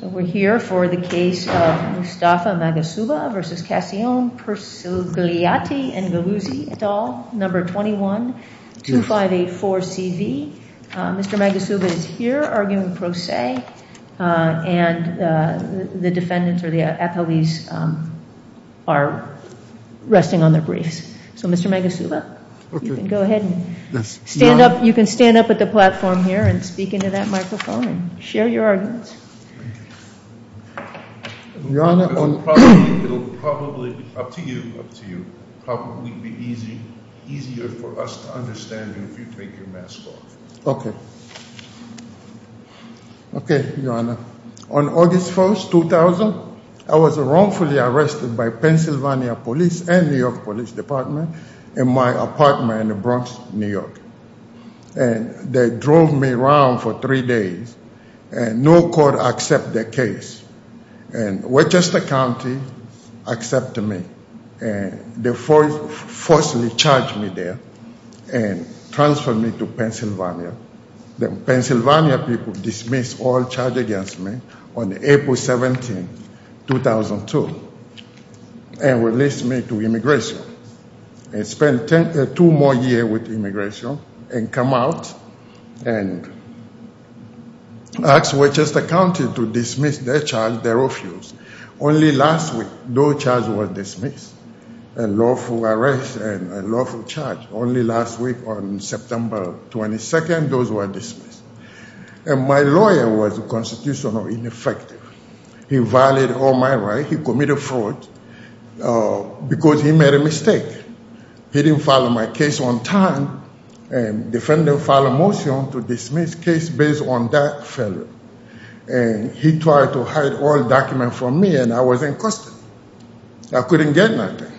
21-2584-CV. Mr. Magassouba is here, arguing pro se, and the defendants, or the appellees, are resting on their briefs. So, Mr. Magassouba, you can go ahead and stand up. You can stand up at the platform here and speak into that microphone and share your arguments. Your Honor, it will probably be easier for us to understand you if you take your mask off. Okay. Okay, Your Honor. On August 1, 2000, I was wrongfully arrested by Pennsylvania Police and New York Police Department in my apartment in Bronx, New York. And they drove me around for three days, and no court accepted the case. And Worcester County accepted me. And they forcefully charged me there and transferred me to Pennsylvania. The Pennsylvania people dismissed all charges against me on April 17, 2002, and released me to immigration. I spent two more years with immigration and came out and asked Worcester County to dismiss their charge, their refusal. Only last week, no charge was dismissed, a lawful arrest and a lawful charge. Only last week, on September 22, those were dismissed. And my lawyer was constitutionally ineffective. He violated all my rights. He committed fraud because he made a mistake. He didn't follow my case on time, and the defendant filed a motion to dismiss the case based on that failure. And he tried to hide all documents from me, and I was in custody. I couldn't get nothing.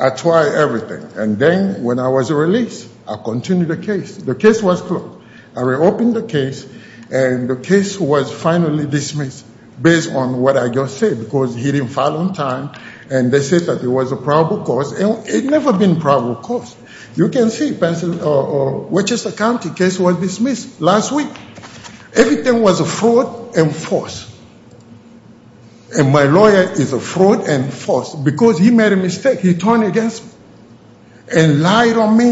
I tried everything, and then when I was released, I continued the case. The case was closed. I reopened the case, and the case was finally dismissed based on what I just said, because he didn't follow on time. And they said that it was a probable cause, and it's never been a probable cause. You can see, Pennsylvania or Worcester County case was dismissed last week. Everything was a fraud and false. And my lawyer is a fraud and false, because he made a mistake. He turned against me and lied on me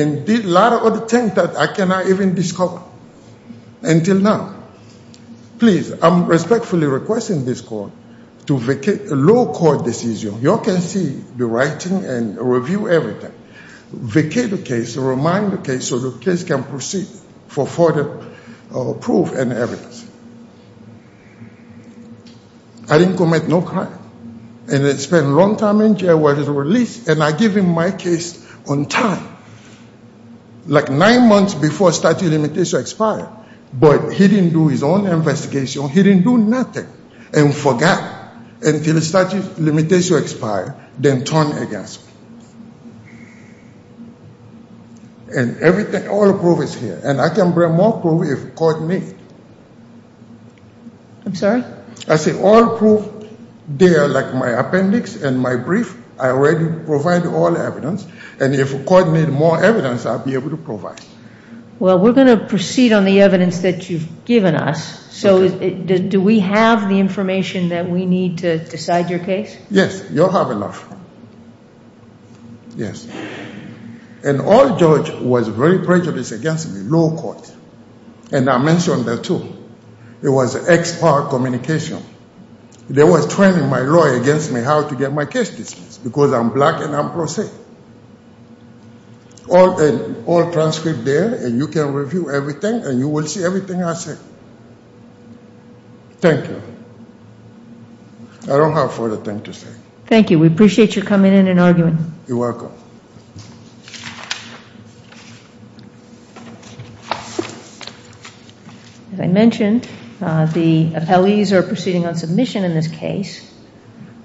and did a lot of other things that I cannot even discuss until now. Please, I'm respectfully requesting this court to vacate the low court decision. You all can see the writing and review everything. Vacate the case, remind the case so the case can proceed for further proof and evidence. I didn't commit no crime, and I spent a long time in jail while he was released, and I gave him my case on time, like nine months before statute of limitations expired, but he didn't do his own investigation. He didn't do nothing and forgot until the statute of limitations expired, then turned against me. And everything, all the proof is here, and I can bring more proof if the court needs it. I'm sorry? I said all the proof there, like my appendix and my brief, I already provided all the evidence, and if the court needs more evidence, I'll be able to provide it. Well, we're going to proceed on the evidence that you've given us. So do we have the information that we need to decide your case? Yes, you'll have enough. Yes. An old judge was very prejudiced against me, low court, and I mentioned that too. It was ex-part communication. They were training my lawyer against me how to get my case dismissed because I'm black and I'm pro se. All transcript there, and you can review everything, and you will see everything I say. Thank you. I don't have a further thing to say. Thank you. We appreciate you coming in and arguing. You're welcome. As I mentioned, the appellees are proceeding on submission in this case.